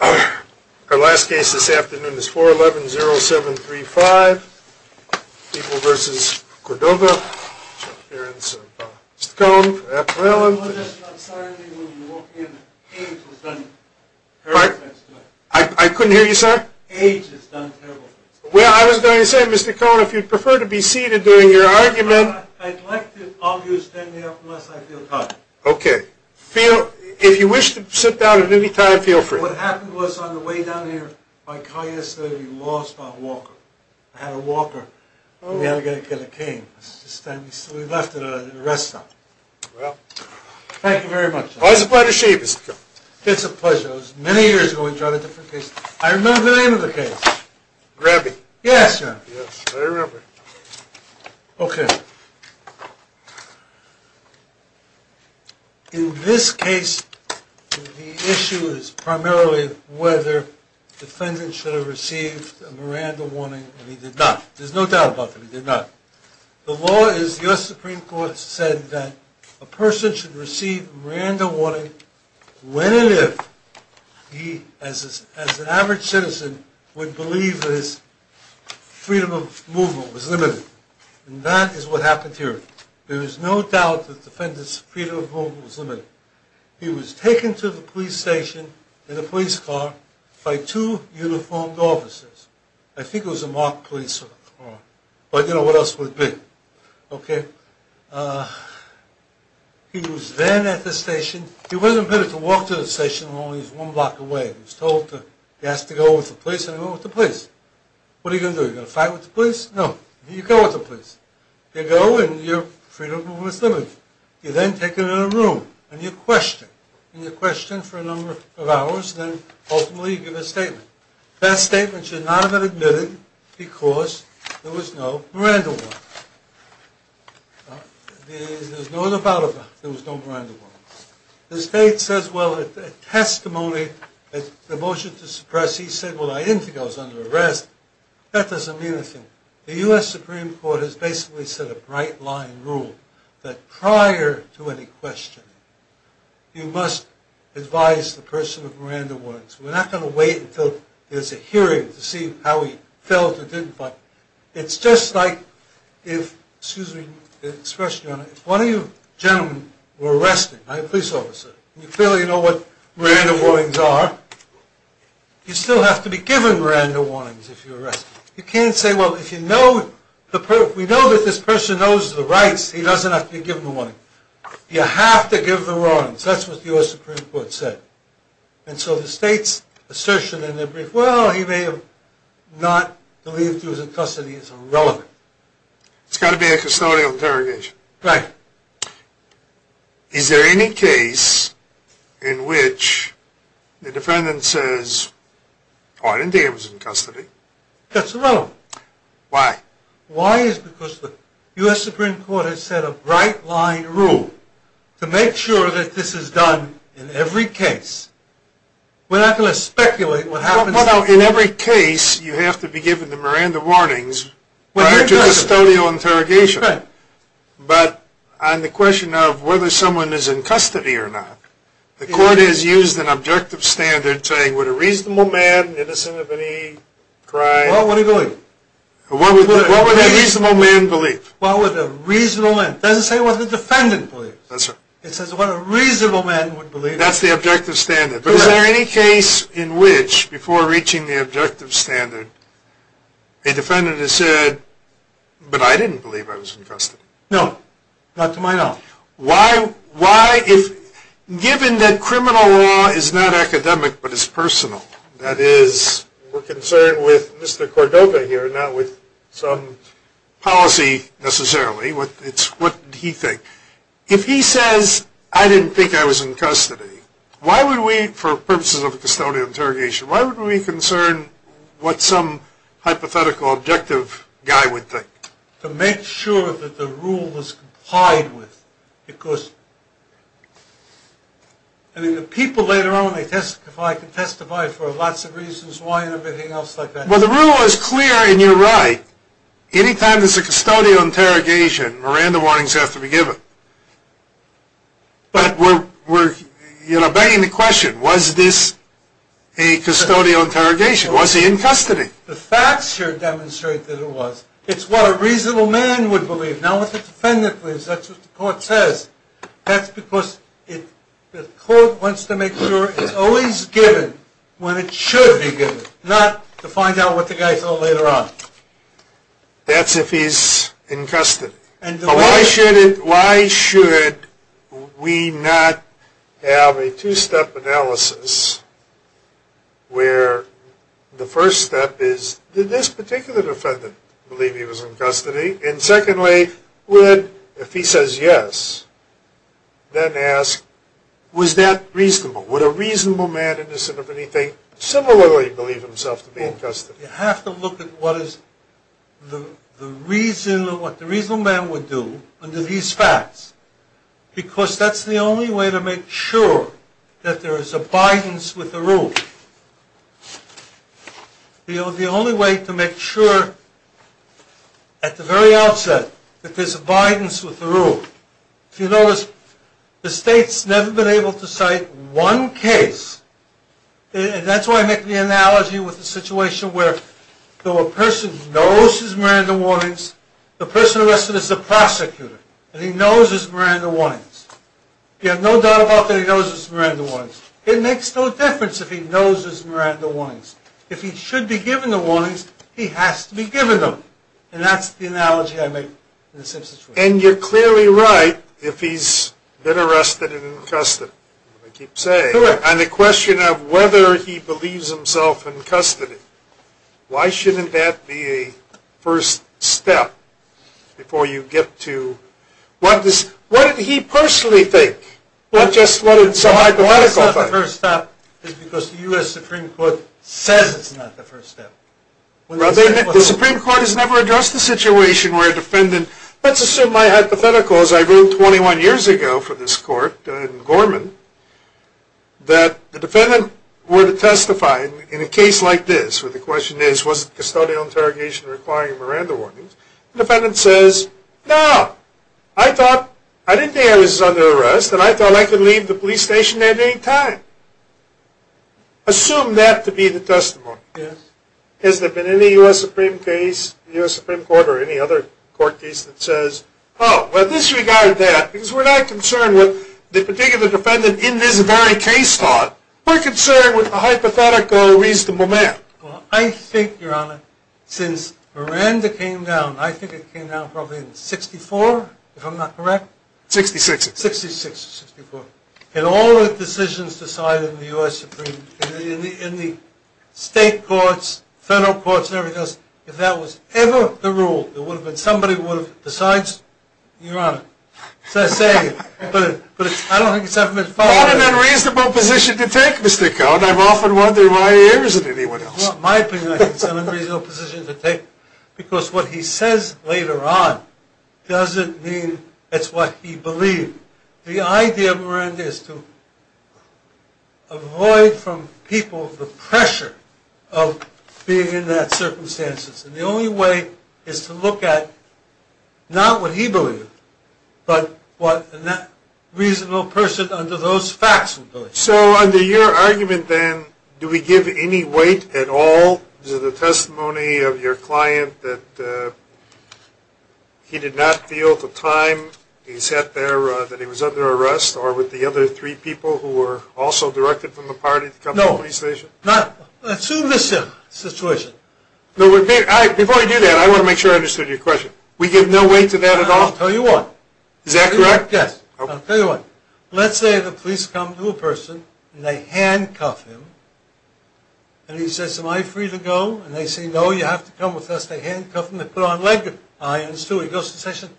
Our last case this afternoon is 4-11-0-7-3-5 People v. Cordova Appearance of Mr. Cohn for apparellant I'm sorry, I couldn't hear you, sir? Age has done terrible things Well, I was going to say, Mr. Cohn, if you'd prefer to be seated during your argument I'd like to, obviously, unless I feel tired Okay, if you wish to sit down at any time, feel free What happened was, on the way down here, my car yesterday was lost by a walker I had a walker, and we had to get a cane So we left it at a rest stop Thank you very much Always a pleasure to see you, Mr. Cohn It's a pleasure It was many years ago we tried a different case I remember the name of the case Grabby Yes, sir Yes, I remember Okay In this case, the issue is primarily whether the defendant should have received a Miranda warning And he did not There's no doubt about that, he did not The law is, the U.S. Supreme Court said that a person should receive a Miranda warning when and if he, as an average citizen, would believe that his freedom of movement was limited And that is what happened here There is no doubt that the defendant's freedom of movement was limited He was taken to the police station in a police car by two uniformed officers I think it was a marked police car I don't know what else it would have been Okay He was then at the station He wasn't permitted to walk to the station alone, he was one block away He was told he has to go with the police, and he went with the police What are you going to do, are you going to fight with the police? No, you go with the police You go, and your freedom of movement is limited You're then taken to a room, and you're questioned And you're questioned for a number of hours, and then ultimately you give a statement That statement should not have been admitted because there was no Miranda warning There's no doubt about that, there was no Miranda warning The state says, well, at testimony, at the motion to suppress, he said, well, I didn't think I was under arrest That doesn't mean a thing The U.S. Supreme Court has basically set a bright line rule That prior to any questioning, you must advise the person with Miranda warnings We're not going to wait until there's a hearing to see how he felt or didn't feel It's just like if, excuse me, the expression, if one of you gentlemen were arrested by a police officer You clearly know what Miranda warnings are You still have to be given Miranda warnings if you're arrested You can't say, well, if you know, if we know that this person knows the rights, he doesn't have to be given the warning You have to give the warnings, that's what the U.S. Supreme Court said And so the state's assertion in their brief, well, he may have not believed he was in custody is irrelevant It's got to be a custodial interrogation Right Is there any case in which the defendant says, oh, I didn't think he was in custody? That's irrelevant Why? Why is because the U.S. Supreme Court has set a bright line rule to make sure that this is done in every case We're not going to speculate what happens Well, in every case, you have to be given the Miranda warnings prior to custodial interrogation Right But on the question of whether someone is in custody or not The court has used an objective standard saying, would a reasonable man, innocent of any crime What would a reasonable man believe? What would a reasonable man, it doesn't say what the defendant believes That's right It says what a reasonable man would believe That's the objective standard Is there any case in which, before reaching the objective standard, a defendant has said, but I didn't believe I was in custody? No, not to my knowledge Why? Given that criminal law is not academic, but is personal That is, we're concerned with Mr. Cordova here, not with some policy necessarily It's what he thinks If he says, I didn't think I was in custody, why would we, for purposes of custodial interrogation Why would we concern what some hypothetical, objective guy would think? To make sure that the rule was complied with Because, I mean, the people later on, they testify, can testify for lots of reasons, why and everything else like that Well, the rule was clear, and you're right, anytime there's a custodial interrogation, Miranda warnings have to be given But, we're, you know, begging the question, was this a custodial interrogation, was he in custody? The facts here demonstrate that it was It's what a reasonable man would believe Not what the defendant believes, that's what the court says That's because the court wants to make sure it's always given when it should be given Not to find out what the guy thought later on That's if he's in custody Why should we not have a two-step analysis Where the first step is, did this particular defendant believe he was in custody? And secondly, would, if he says yes, then ask, was that reasonable? Would a reasonable man, innocent of anything, similarly believe himself to be in custody? You have to look at what the reasonable man would do under these facts Because that's the only way to make sure that there is abidance with the rule The only way to make sure, at the very outset, that there's abidance with the rule If you notice, the state's never been able to cite one case And that's why I make the analogy with the situation where There was a person who knows his Miranda warnings The person arrested is the prosecutor And he knows his Miranda warnings You have no doubt about that he knows his Miranda warnings It makes no difference if he knows his Miranda warnings If he should be given the warnings, he has to be given them And that's the analogy I make in this situation And you're clearly right, if he's been arrested and in custody I keep saying, on the question of whether he believes himself in custody Why shouldn't that be a first step, before you get to What did he personally think? What just, what did some hypothetical think? Why it's not the first step, is because the U.S. Supreme Court says it's not the first step The Supreme Court has never addressed the situation where a defendant Let's assume my hypothetical, as I ruled 21 years ago for this court, in Gorman That the defendant were to testify in a case like this Where the question is, was the custodial interrogation requiring Miranda warnings? The defendant says, no! I thought, I didn't think I was under arrest And I thought I could leave the police station at any time Assume that to be the testimony Has there been any U.S. Supreme Court or any other court case that says Oh, well disregard that, because we're not concerned with the particular defendant in this very case We're concerned with the hypothetical reasonable man I think, your honor, since Miranda came down I think it came down probably in 64, if I'm not correct 66 66 or 64 In all the decisions decided in the U.S. Supreme In the state courts, federal courts and everything else If that was ever the rule, there would have been somebody who would have Besides, your honor It's a saying, but I don't think it's ever been followed Not an unreasonable position to take, Mr. Cohen I'm often wondering why he isn't anyone else In my opinion, I think it's an unreasonable position to take Because what he says later on Doesn't mean it's what he believed The idea of Miranda is to Avoid from people the pressure Of being in that circumstances And the only way is to look at Not what he believed But what a reasonable person under those facts would believe So under your argument then Do we give any weight at all To the testimony of your client that He did not feel at the time He sat there that he was under arrest Or with the other three people who were also directed from the party To come to the police station No, not Assume this situation Before I do that, I want to make sure I understood your question We give no weight to that at all? I'll tell you what Is that correct? Yes I'll tell you what Let's say the police come to a person And they handcuff him And he says, am I free to go? And they say, no, you have to come with us They handcuff him, they put on leg irons He goes to the station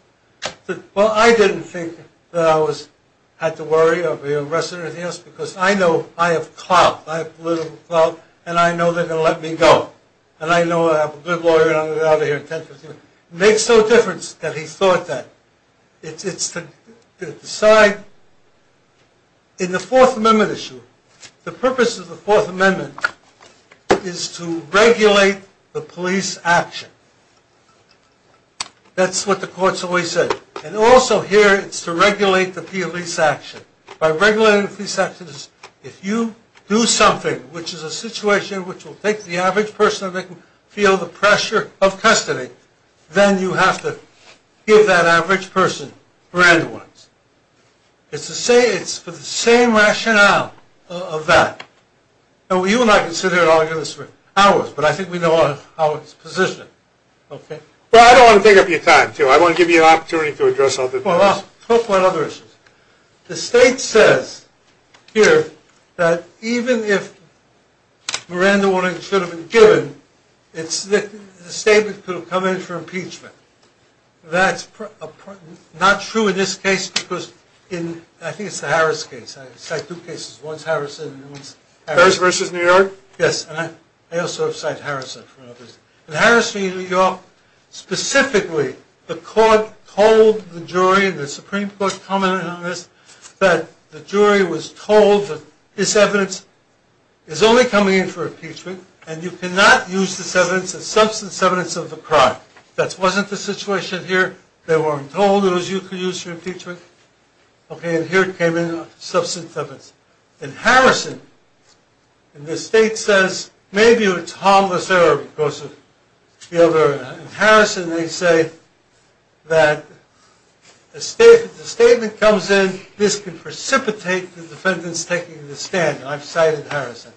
Well, I didn't think that I was Had to worry of being arrested or anything else Because I know, I have clout I have political clout And I know they're going to let me go And I know I have a good lawyer And I'm going to get out of here in 10, 15 minutes It makes no difference that he thought that It's to decide In the Fourth Amendment issue The purpose of the Fourth Amendment Is to regulate the police action That's what the courts always say And also here, it's to regulate the police action By regulating the police action If you do something Which is a situation which will make the average person Feel the pressure of custody Then you have to give that average person Grand ones It's for the same rationale of that Now, you and I can sit here and argue this for hours But I think we know how it's positioned Well, I don't want to take up your time I want to give you an opportunity to address other things Well, I'll talk about other issues The state says here That even if Miranda Williams should have been given The statement could have come in for impeachment That's not true in this case Because in, I think it's the Harris case I cite two cases, one's Harrison and one's Harris Harris versus New York? Yes, and I also have cited Harrison In Harrison v. New York Specifically, the court told the jury The Supreme Court commented on this That the jury was told that this evidence Is only coming in for impeachment And you cannot use this evidence As substance evidence of a crime That wasn't the situation here They weren't told it was used for impeachment Okay, and here it came in as substance evidence In Harrison, the state says Maybe it's harmless error Because of the other In Harrison, they say That the statement comes in This could precipitate the defendants taking the stand And I've cited Harrison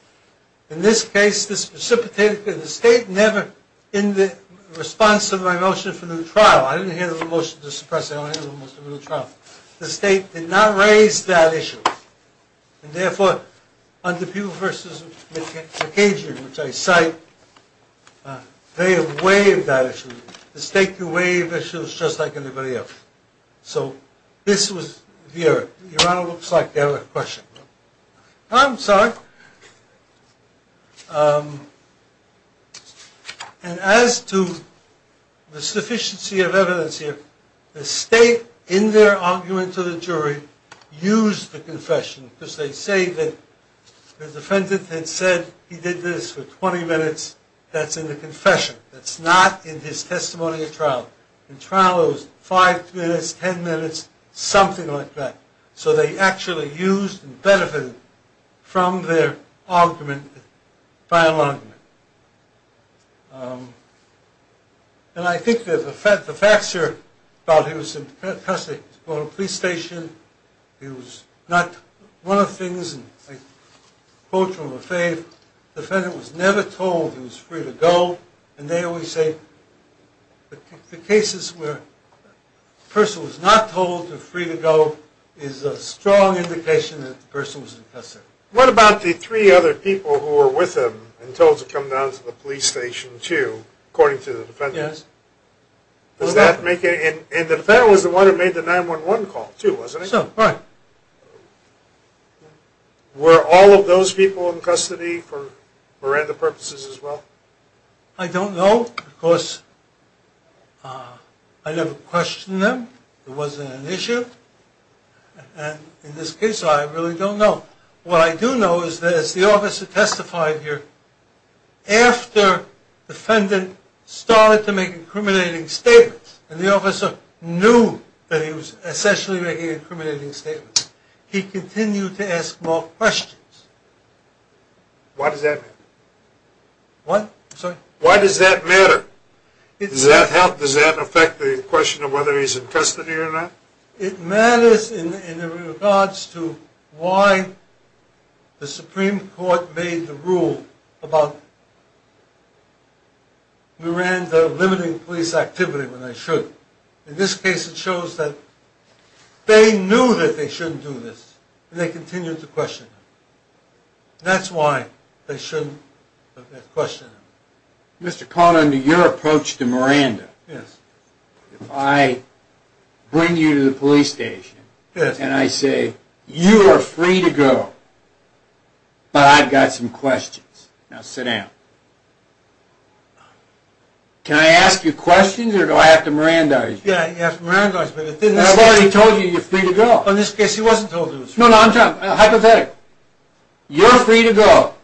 In this case, this precipitated The state never, in the response to my motion for new trial I didn't hear the motion to suppress it I only heard the motion for new trial The state did not raise that issue And therefore, under Peoples v. McAdrian Which I cite They have waived that issue The state can waive issues just like anybody else So, this was the error Your Honor looks like they have a question I'm sorry And as to the sufficiency of evidence here The state, in their argument to the jury Used the confession Because they say that the defendant had said He did this for 20 minutes That's in the confession That's not in his testimony at trial In trial, it was 5 minutes, 10 minutes Something like that So, they actually used and benefited From their argument Final argument And I think that the facts here About he was in custody He was brought to the police station He was not One of the things I quote from a faith The defendant was never told he was free to go And they always say The cases where The person was not told they were free to go Is a strong indication that the person was in custody What about the three other people who were with him And told to come down to the police station too According to the defendants Yes Does that make any And the defendant was the one who made the 911 call too Wasn't he? Right Were all of those people in custody For Miranda purposes as well? I don't know Of course I never questioned them It wasn't an issue And in this case, I really don't know What I do know is that As the officer testified here After the defendant Started to make incriminating statements And the officer knew That he was essentially making incriminating statements He continued to ask more questions Why does that matter? What? Why does that matter? Does that help? Does that affect the question of whether he's in custody or not? It matters in regards to Why The Supreme Court made the rule About Miranda limiting police activity when they should In this case it shows that They knew that they shouldn't do this And they continued to question him That's why they shouldn't question him Mr. Conner, under your approach to Miranda Yes If I bring you to the police station Yes And I say You are free to go But I've got some questions Now sit down Can I ask you questions or do I have to mirandize you? Yes, you have to mirandize me I've already told you, you're free to go In this case, he wasn't told he was free to go No, no, I'm joking. Hypothetically You're free to go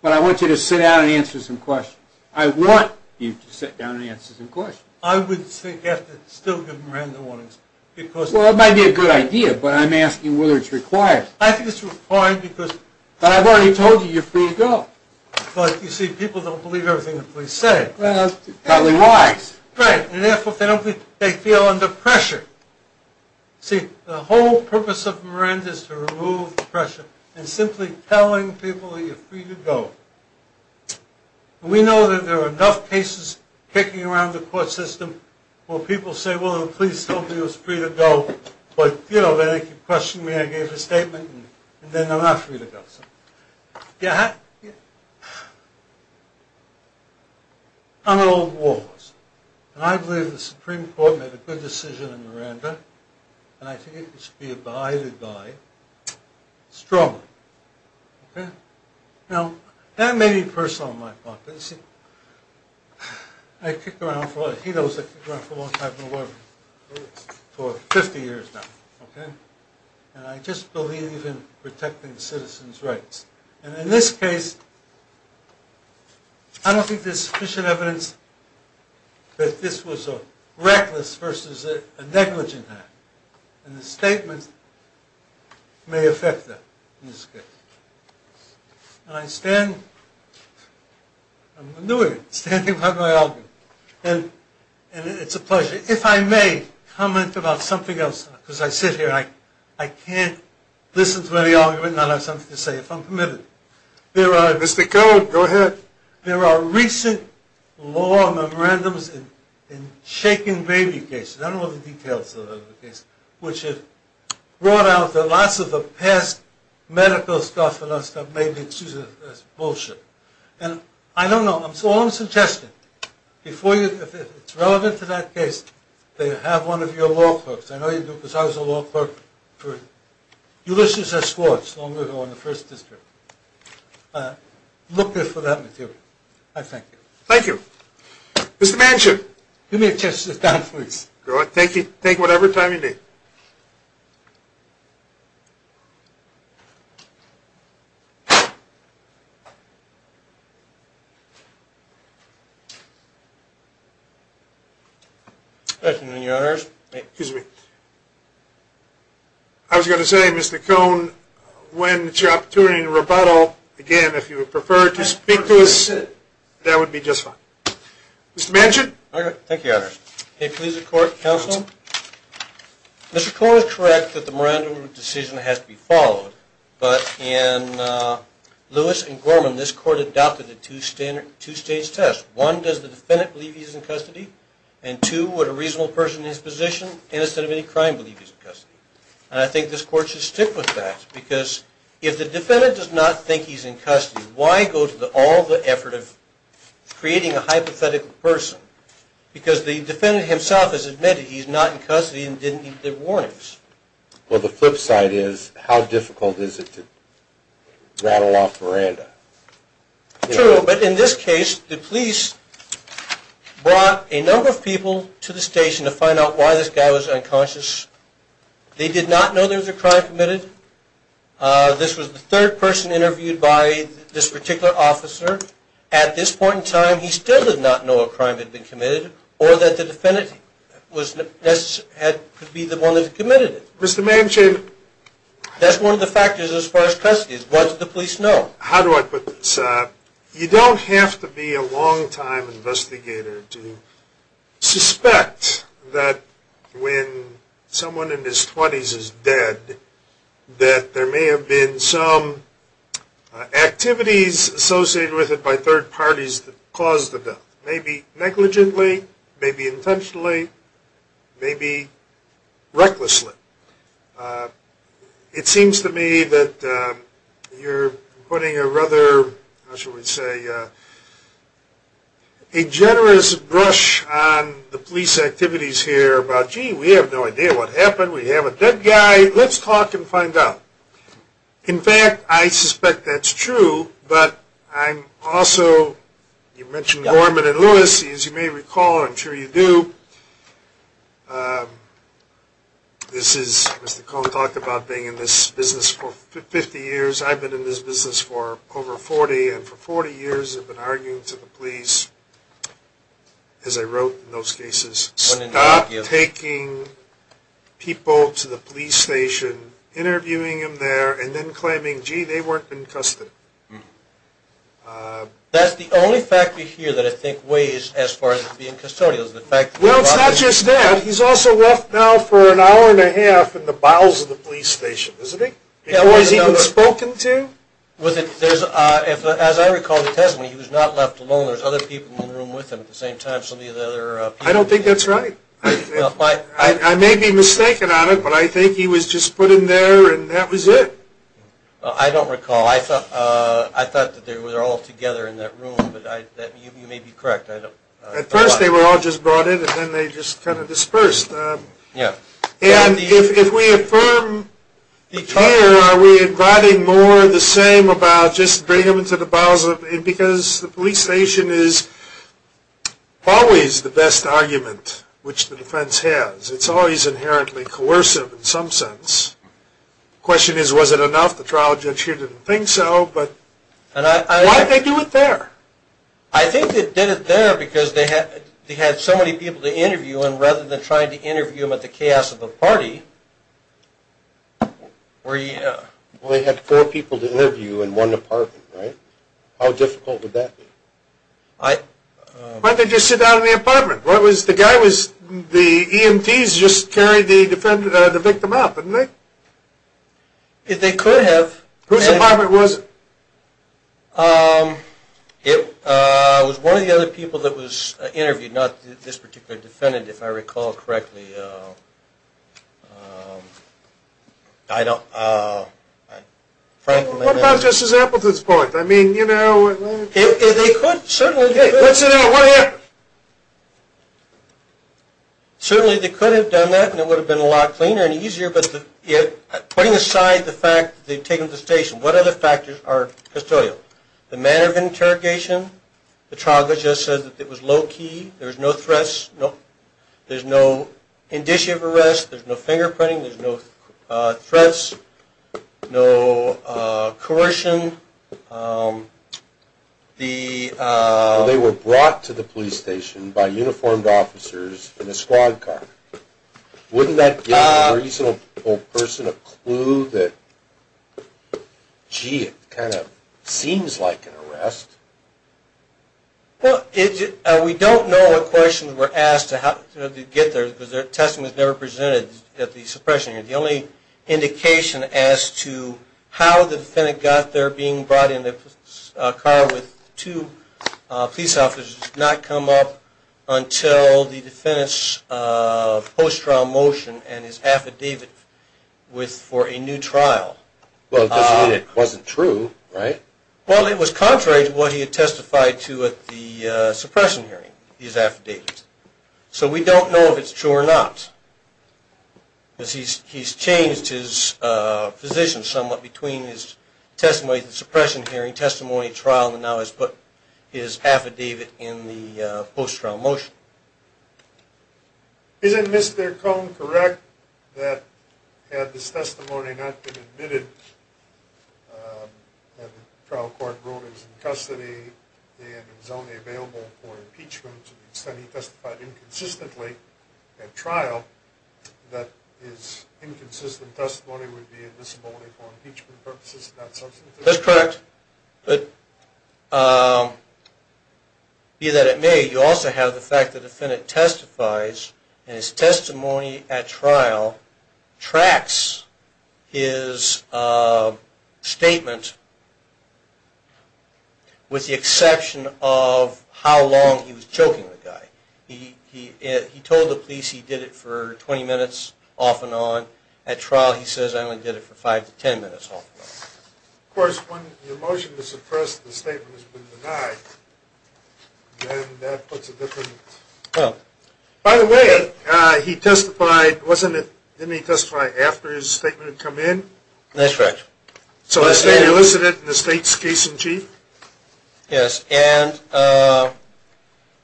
But I want you to sit down and answer some questions I want you to sit down and answer some questions I would still have to give Miranda warnings Well, that might be a good idea But I'm asking whether it's required I think it's required because But I've already told you, you're free to go But you see, people don't believe everything the police say Well, partly why Right, and therefore they feel under pressure See, the whole purpose of Miranda is to remove the pressure And simply telling people that you're free to go We know that there are enough cases Kicking around the court system Where people say, well, the police told me I was free to go But, you know, they keep questioning me I gave a statement, and then they're not free to go So, yeah I'm an old war horse And I believe the Supreme Court made a good decision on Miranda And I think it should be abided by Okay Now, that may be personal on my part But you see I've kicked around for a long time For 50 years now And I just believe in protecting citizens' rights And in this case I don't think there's sufficient evidence That this was a reckless versus a negligent act And the statement may affect that In this case And I stand I'm going to do it Standing by my argument And it's a pleasure If I may comment about something else Because I sit here I can't listen to any argument And I'll have something to say if I'm permitted There are Mr. Code, go ahead There are recent law memorandums In shaken baby cases I don't know the details of the case Which have brought out That lots of the past medical stuff And I don't know All I'm suggesting If it's relevant to that case That you have one of your law clerks I know you do because I was a law clerk For Ulysses S. Schwartz Long ago in the first district Looking for that material I thank you Thank you Mr. Manchin Give me a chance to sit down, please Go ahead, take whatever time you need I was going to say, Mr. Cone When it's your opportunity to rebuttal Again, if you would prefer to speak to us That would be just fine Mr. Manchin Thank you, Your Honor May it please the court, counsel Mr. Cone is correct that the Miranda decision The case of the The case of the The case of the The case of the The case of the Lewis and Gorman This court adopted the two-stage test One, does the defendant believe he's in custody And two, would a reasonable person In his position, innocent of any crime Believe he's in custody And I think this court should stick with that Because if the defendant does not think he's in custody Why go to all the effort of Creating a hypothetical person Because the defendant himself has admitted He is not in custody and didn't get the warnings Well, the flip side is How difficult is it to rattle off Miranda? True, but in this case The police brought a number of people To the station to find out why this guy was unconscious They did not know there was a crime committed This was the third person interviewed by This particular officer At this point in time He still did not know a crime had been committed Or that the defendant Could be the one that committed it Mr. Manchin That's one of the factors as far as custody What does the police know? How do I put this? You don't have to be a long-time investigator To suspect that When someone in his twenties is dead That there may have been some Activities associated with it by third parties That caused the death Maybe negligently Maybe intentionally Maybe recklessly It seems to me that You're putting a rather How shall we say A generous brush on the police activities here About, gee, we have no idea what happened We have a dead guy Let's talk and find out In fact, I suspect that's true But I'm also You mentioned Gorman and Lewis As you may recall I'm sure you do This is Mr. Cohen talked about being in this business For 50 years I've been in this business for over 40 And for 40 years I've been arguing to the police As I wrote in those cases Stop taking people to the police station Interviewing them there And then claiming, gee, they weren't in custody That's the only factor here That I think weighs as far as being custodial Well, it's not just that He's also left now for an hour and a half In the bowels of the police station, isn't he? Has he been spoken to? As I recall the testimony He was not left alone There's other people in the room with him At the same time I don't think that's right I may be mistaken on it But I think he was just put in there And that was it I don't recall I thought that they were all together in that room You may be correct At first they were all just brought in And then they just kind of dispersed And if we affirm here Are we inviting more of the same About just bringing them into the bowels Because the police station is Always the best argument Which the defense has It's always inherently coercive in some sense The question is, was it enough? The trial judge here didn't think so Why did they do it there? I think they did it there Because they had so many people to interview And rather than trying to interview them At the chaos of the party Well they had four people to interview In one apartment, right? How difficult would that be? Why didn't they just sit down in the apartment? The guy was The EMTs just carried the victim out, didn't they? They could have Whose apartment was it? It was one of the other people That was interviewed Not this particular defendant If I recall correctly I don't Frankly What about Justice Appleton's point? I mean, you know What happened? Certainly they could have done that And it would have been a lot cleaner and easier Putting aside the fact That they've taken him to the station What other factors are custodial? The manner of interrogation? The trial judge just said that it was low-key There was no threats There's no indicia of arrest There's no fingerprinting There's no threats No coercion They were brought to the police station By uniformed officers In a squad car Wouldn't that Give a reasonable person A clue that Gee, it kind of Seems like an arrest We don't know what questions were asked To get there Because their testimony was never presented At the suppression unit The only indication as to How the defendant got there Being brought in a car With two police officers This has not come up Until the defendant's Post-trial motion And his affidavit For a new trial Well, it doesn't mean it wasn't true, right? Well, it was contrary to what he had testified to At the suppression hearing His affidavit So we don't know if it's true or not Because he's Changed his position Somewhat between his testimony At the suppression hearing, testimony, trial And now has put his affidavit In the post-trial motion Isn't Mr. Cone correct That had this testimony Not been admitted That the trial court Wrote he was in custody And was only available for impeachment To the extent he testified inconsistently At trial That his inconsistent Testimony would be a disability For impeachment purposes and not substantive That's correct But Be that it may You also have the fact the defendant testifies And his testimony at trial Tracks His Statement With the exception Of how long He was choking the guy He told the police he did it for 20 minutes off and on At trial he says I only did it for 5 to 10 minutes Of course when the motion is suppressed The statement has been denied And that puts a Difference By the way he testified Wasn't it, didn't he testify after His statement had come in That's correct So the state elicited in the state's case in chief Yes and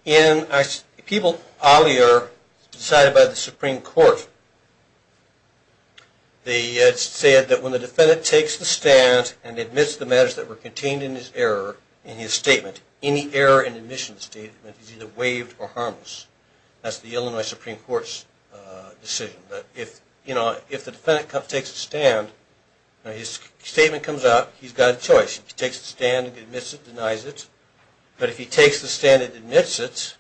In People out here Decided by the supreme court They Said that when the defendant Takes the stand and admits the matters That were contained in his error In his statement, any error in the admission Statement is either waived or harmless That's the Illinois supreme court's Decision If the defendant takes the stand His statement comes out He's got a choice, he takes the stand Admits it, denies it But if he takes the stand and admits it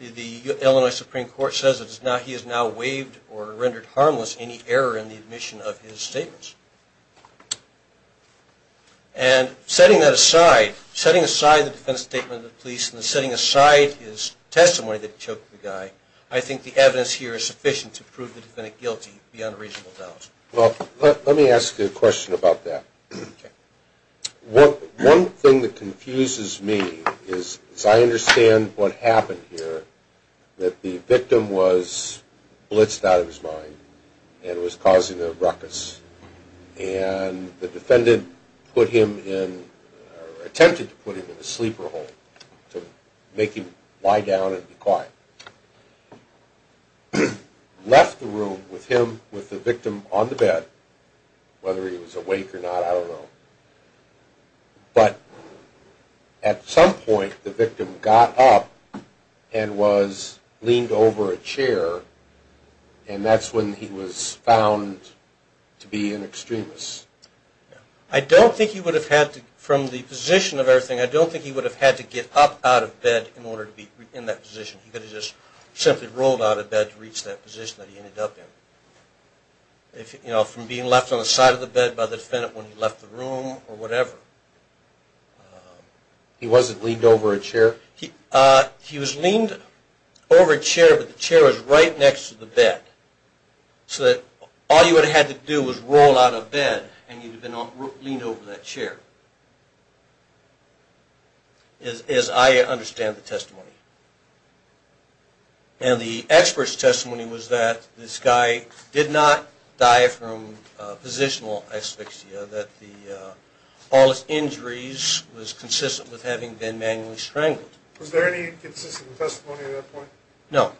The Illinois supreme court Says he has now waived or rendered Harmless any error in the admission Of his statements And Setting that aside, setting aside The defendant's statement to the police and setting aside His testimony that he choked the guy I think the evidence here is sufficient To prove the defendant guilty beyond Reasonable doubt Let me ask you a question about that One thing That confuses me is As I understand what happened here That the victim was Blitzed out of his mind And was causing a ruckus And the defendant Put him in Or attempted to put him in a sleeper hole To make him Lie down and be quiet Left the room with him, with the victim On the bed, whether he Was awake or not, I don't know But At some point the victim Got up And was leaned over a chair And that's when he Was found To be an extremist I don't think he would have had to From the position of everything, I don't think he would have Had to get up out of bed in order to be In that position, he could have just Simply rolled out of bed to reach that position That he ended up in You know, from being left on the side of the bed By the defendant when he left the room Or whatever He wasn't Leaned over a chair? He was leaned over a chair But the chair was right next to the bed So that All you would have had to do was roll out of bed And you would have been leaned over that chair As I Understand the testimony And the expert's testimony Was that this guy Did not die from Positional asphyxia That the All his injuries was consistent With having been manually strangled Was there any inconsistent testimony at that point? No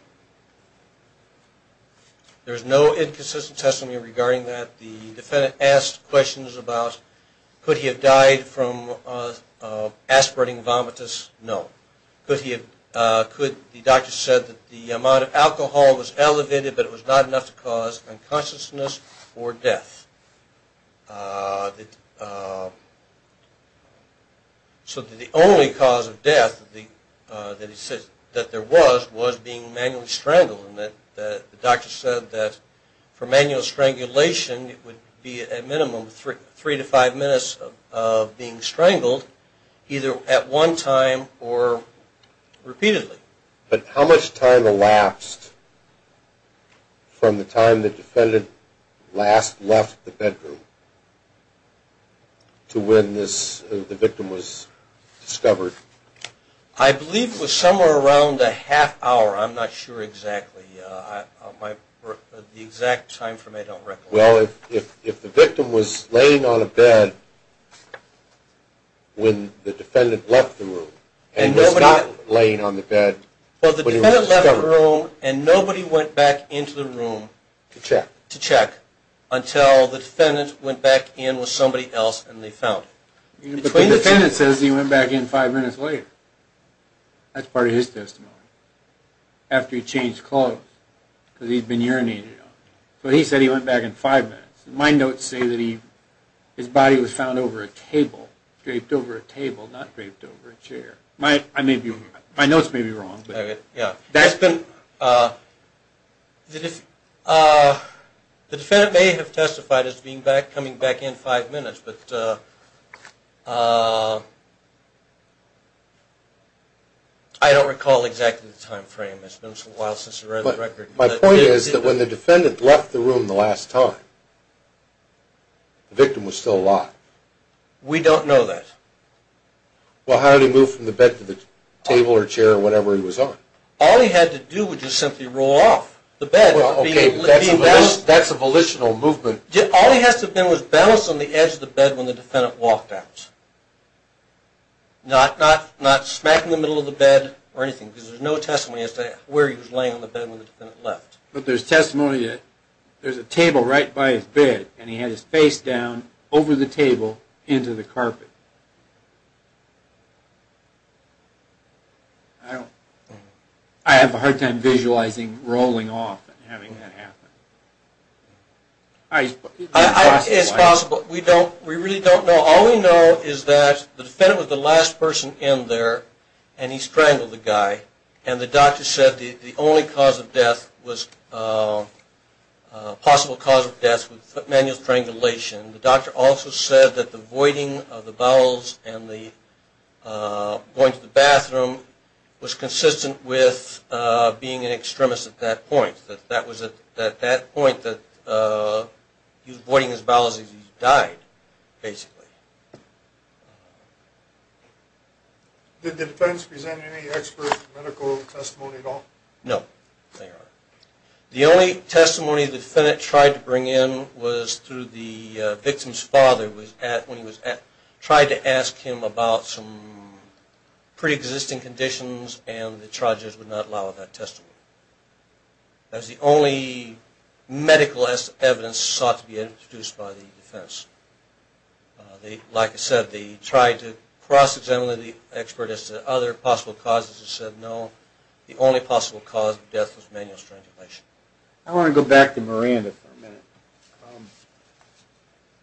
There was no inconsistent Testimony regarding that The defendant asked questions about Could he have died from Aspirating vomitus? No The doctor said that the amount of Alcohol was elevated but it was not enough To cause unconsciousness Or death So the only cause of death That he said that there was Was being manually strangled The doctor said that For manual strangulation It would be a minimum of three to five minutes Of being strangled Either at one time Or repeatedly But how much time elapsed From the time The defendant Left the bedroom To when The victim was discovered? I believe it was Somewhere around a half hour I'm not sure exactly The exact time Well if the victim Was laying on a bed When the Defendant left the room And was not laying on the bed Well the defendant left the room And nobody went back into the room To check Until the defendant went back in With somebody else and they found him But the defendant says he went back in Five minutes later That's part of his testimony After he changed clothes Because he's been urinating So he said he went back in five minutes His body was found over a table Draped over a table not draped over a chair My notes may be wrong That's been The defendant May have testified as coming back In five minutes but I don't recall exactly the time frame It's been a while since I read the record My point is that when the defendant left the room The last time The victim was still alive We don't know that Well how did he move From the bed to the table or chair Or whatever he was on All he had to do was simply roll off the bed That's a volitional movement All he has to have done Was balance on the edge of the bed When the defendant walked out Not smack in the middle of the bed Or anything Because there's no testimony As to where he was laying on the bed When the defendant left But there's testimony That there's a table right by his bed And he had his face down Over the table into the carpet I don't I have a hard time visualizing rolling off And having that happen It's possible We really don't know All we know is that the defendant was the last person in there And he strangled the guy And the doctor said That the only cause of death Was A possible cause of death Was manual strangulation The doctor also said that the voiding of the bowels And the Voiding of the bathroom Was consistent with Being an extremist at that point That was at that point That he was voiding his bowels As he died basically Did the defense present any expert medical testimony at all? No They are The only testimony the defendant tried to bring in Was through the Victim's father When he was at Tried to ask him about some Pre-existing conditions And the charges would not allow that testimony That was the only Medical evidence Sought to be introduced by the defense They Like I said They tried to cross examine the Expert as to other possible causes And said no The only possible cause of death Was manual strangulation I want to go back to Miranda for a minute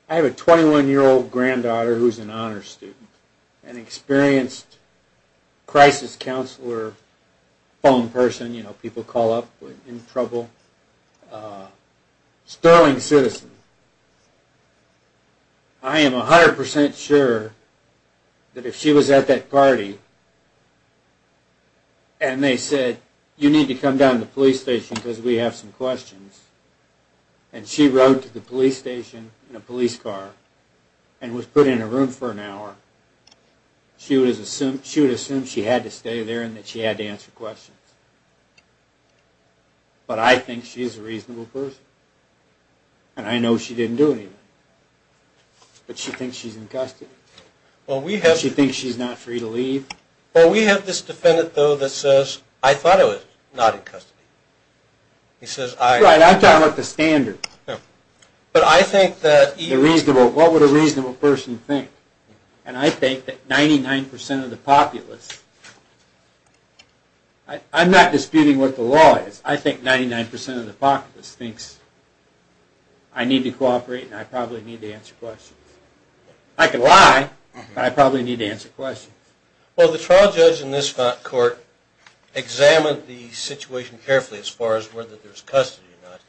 I have a 21 year old granddaughter Who is an honors student An experienced Crisis counselor Phone person You know people call up When in trouble A Sterling citizen I am 100% sure That if she was at that party And they said You need to come down to the police station Because we have some questions And she rode to the police station In a police car And was put in a room for an hour She would assume She had to stay there And that she had to answer questions But I think She is a reasonable person And I know she didn't do anything But she thinks She is in custody She thinks she is not free to leave Well we have this defendant though that says I thought I was not in custody He says I I am talking about the standard But I think that What would a reasonable person think And I think that 99% Of the populace I am not disputing what the law is I think 99% of the populace Thinks I need to cooperate And I probably need to answer questions I can lie But I probably need to answer questions Well the trial judge in this court Examined the situation carefully As far as whether there is custody or not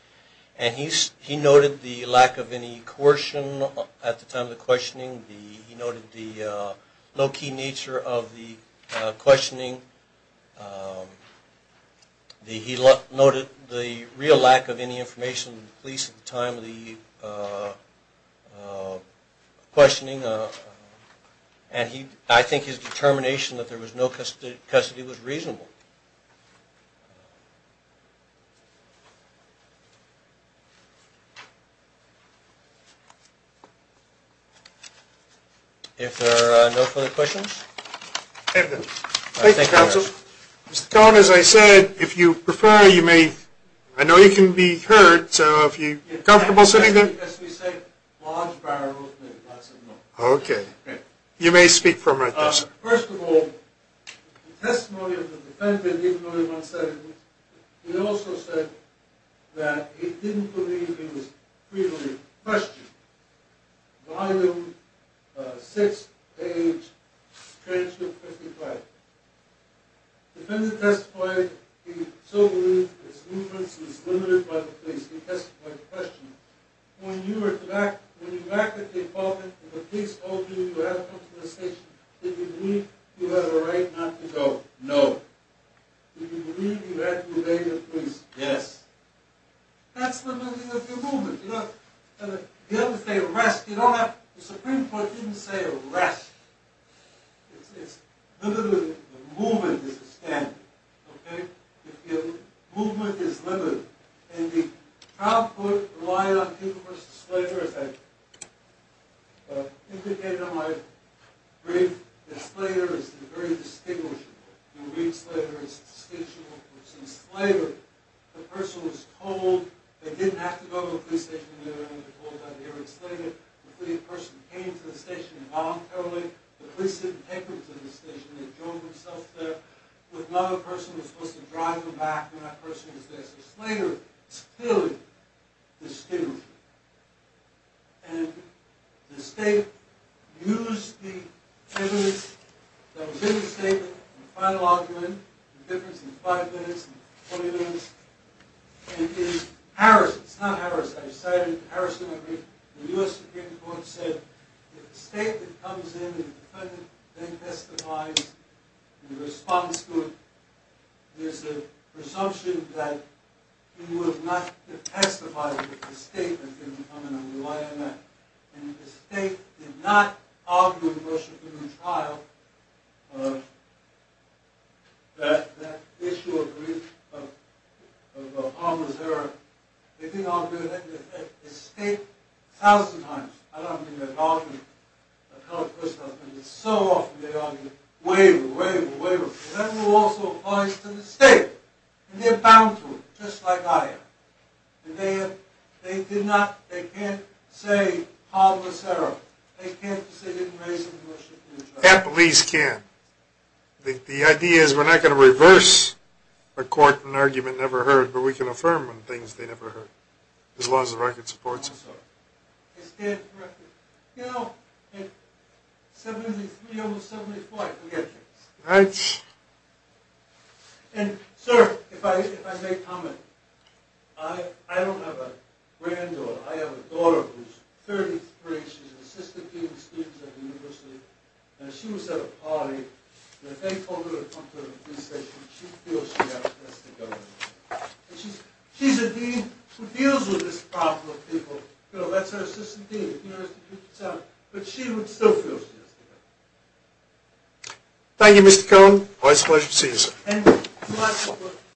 And he noted The lack of any coercion At the time of the questioning He noted the low key nature Of the questioning He noted the real lack of any information At least at the time of the Questioning And I think his determination That there was no custody Was reasonable If there are no further questions Thank you counsel Mr. Cohen as I said If you prefer you may I know you can be heard So if you are comfortable sitting there Okay You may speak from right there sir First of all The testimony of the defendant He also said That he didn't believe In the freedom of question Volume 6 page Transcript 55 Defendant testified He so believed His influence was limited by the police He testified the question When you were back At the apartment and the police called you You had to come to the station Did you believe you had a right not to go? No Did you believe you had to obey the police? Yes That's the meaning of your movement You don't have to say arrest You don't have to The supreme court didn't say arrest It's limited Movement is a standard Movement is limited And the Trial court relied on As I indicated In my Brief That Slater is very distinguishable And Reed Slater is distinguishable Because in Slater The person was told They didn't have to go to the police station They were told that they were in Slater The person came to the station voluntarily The police didn't take them to the station They drove themselves there If not the person was supposed to drive them back When that person was there So Slater is clearly Distinguishable And the state Used the evidence That was in the statement The final argument The difference is 5 minutes and 20 minutes And in Harris It's not Harris The U.S. Supreme Court said If the state that comes in And the defendant then testifies In response to it There's a Presumption that He would not testify If the state had been coming and relying on that And if the state did not Argue in the trial That That Issue of Of They didn't argue Thousand times I don't mean that often But so often they argue Waver, waver, waver And that also applies to the state And they're bound to it Just like I am And they did not They can't say Pablo Serra They can't say they didn't raise him in the trial At least can't The idea is we're not going to reverse A court and argument never heard But we can affirm on things they never heard As long as the record supports it I stand corrected You know 73 over 74 I forget things And sir If I may comment I don't have a granddaughter I have a daughter 30th grade She's an assistant dean She was at a party And they told her to come to the police station She feels she has to go She's a dean Who deals with this problem That's her assistant dean But she would still feel she has to go Thank you Mr. Cohen Always a pleasure to see you sir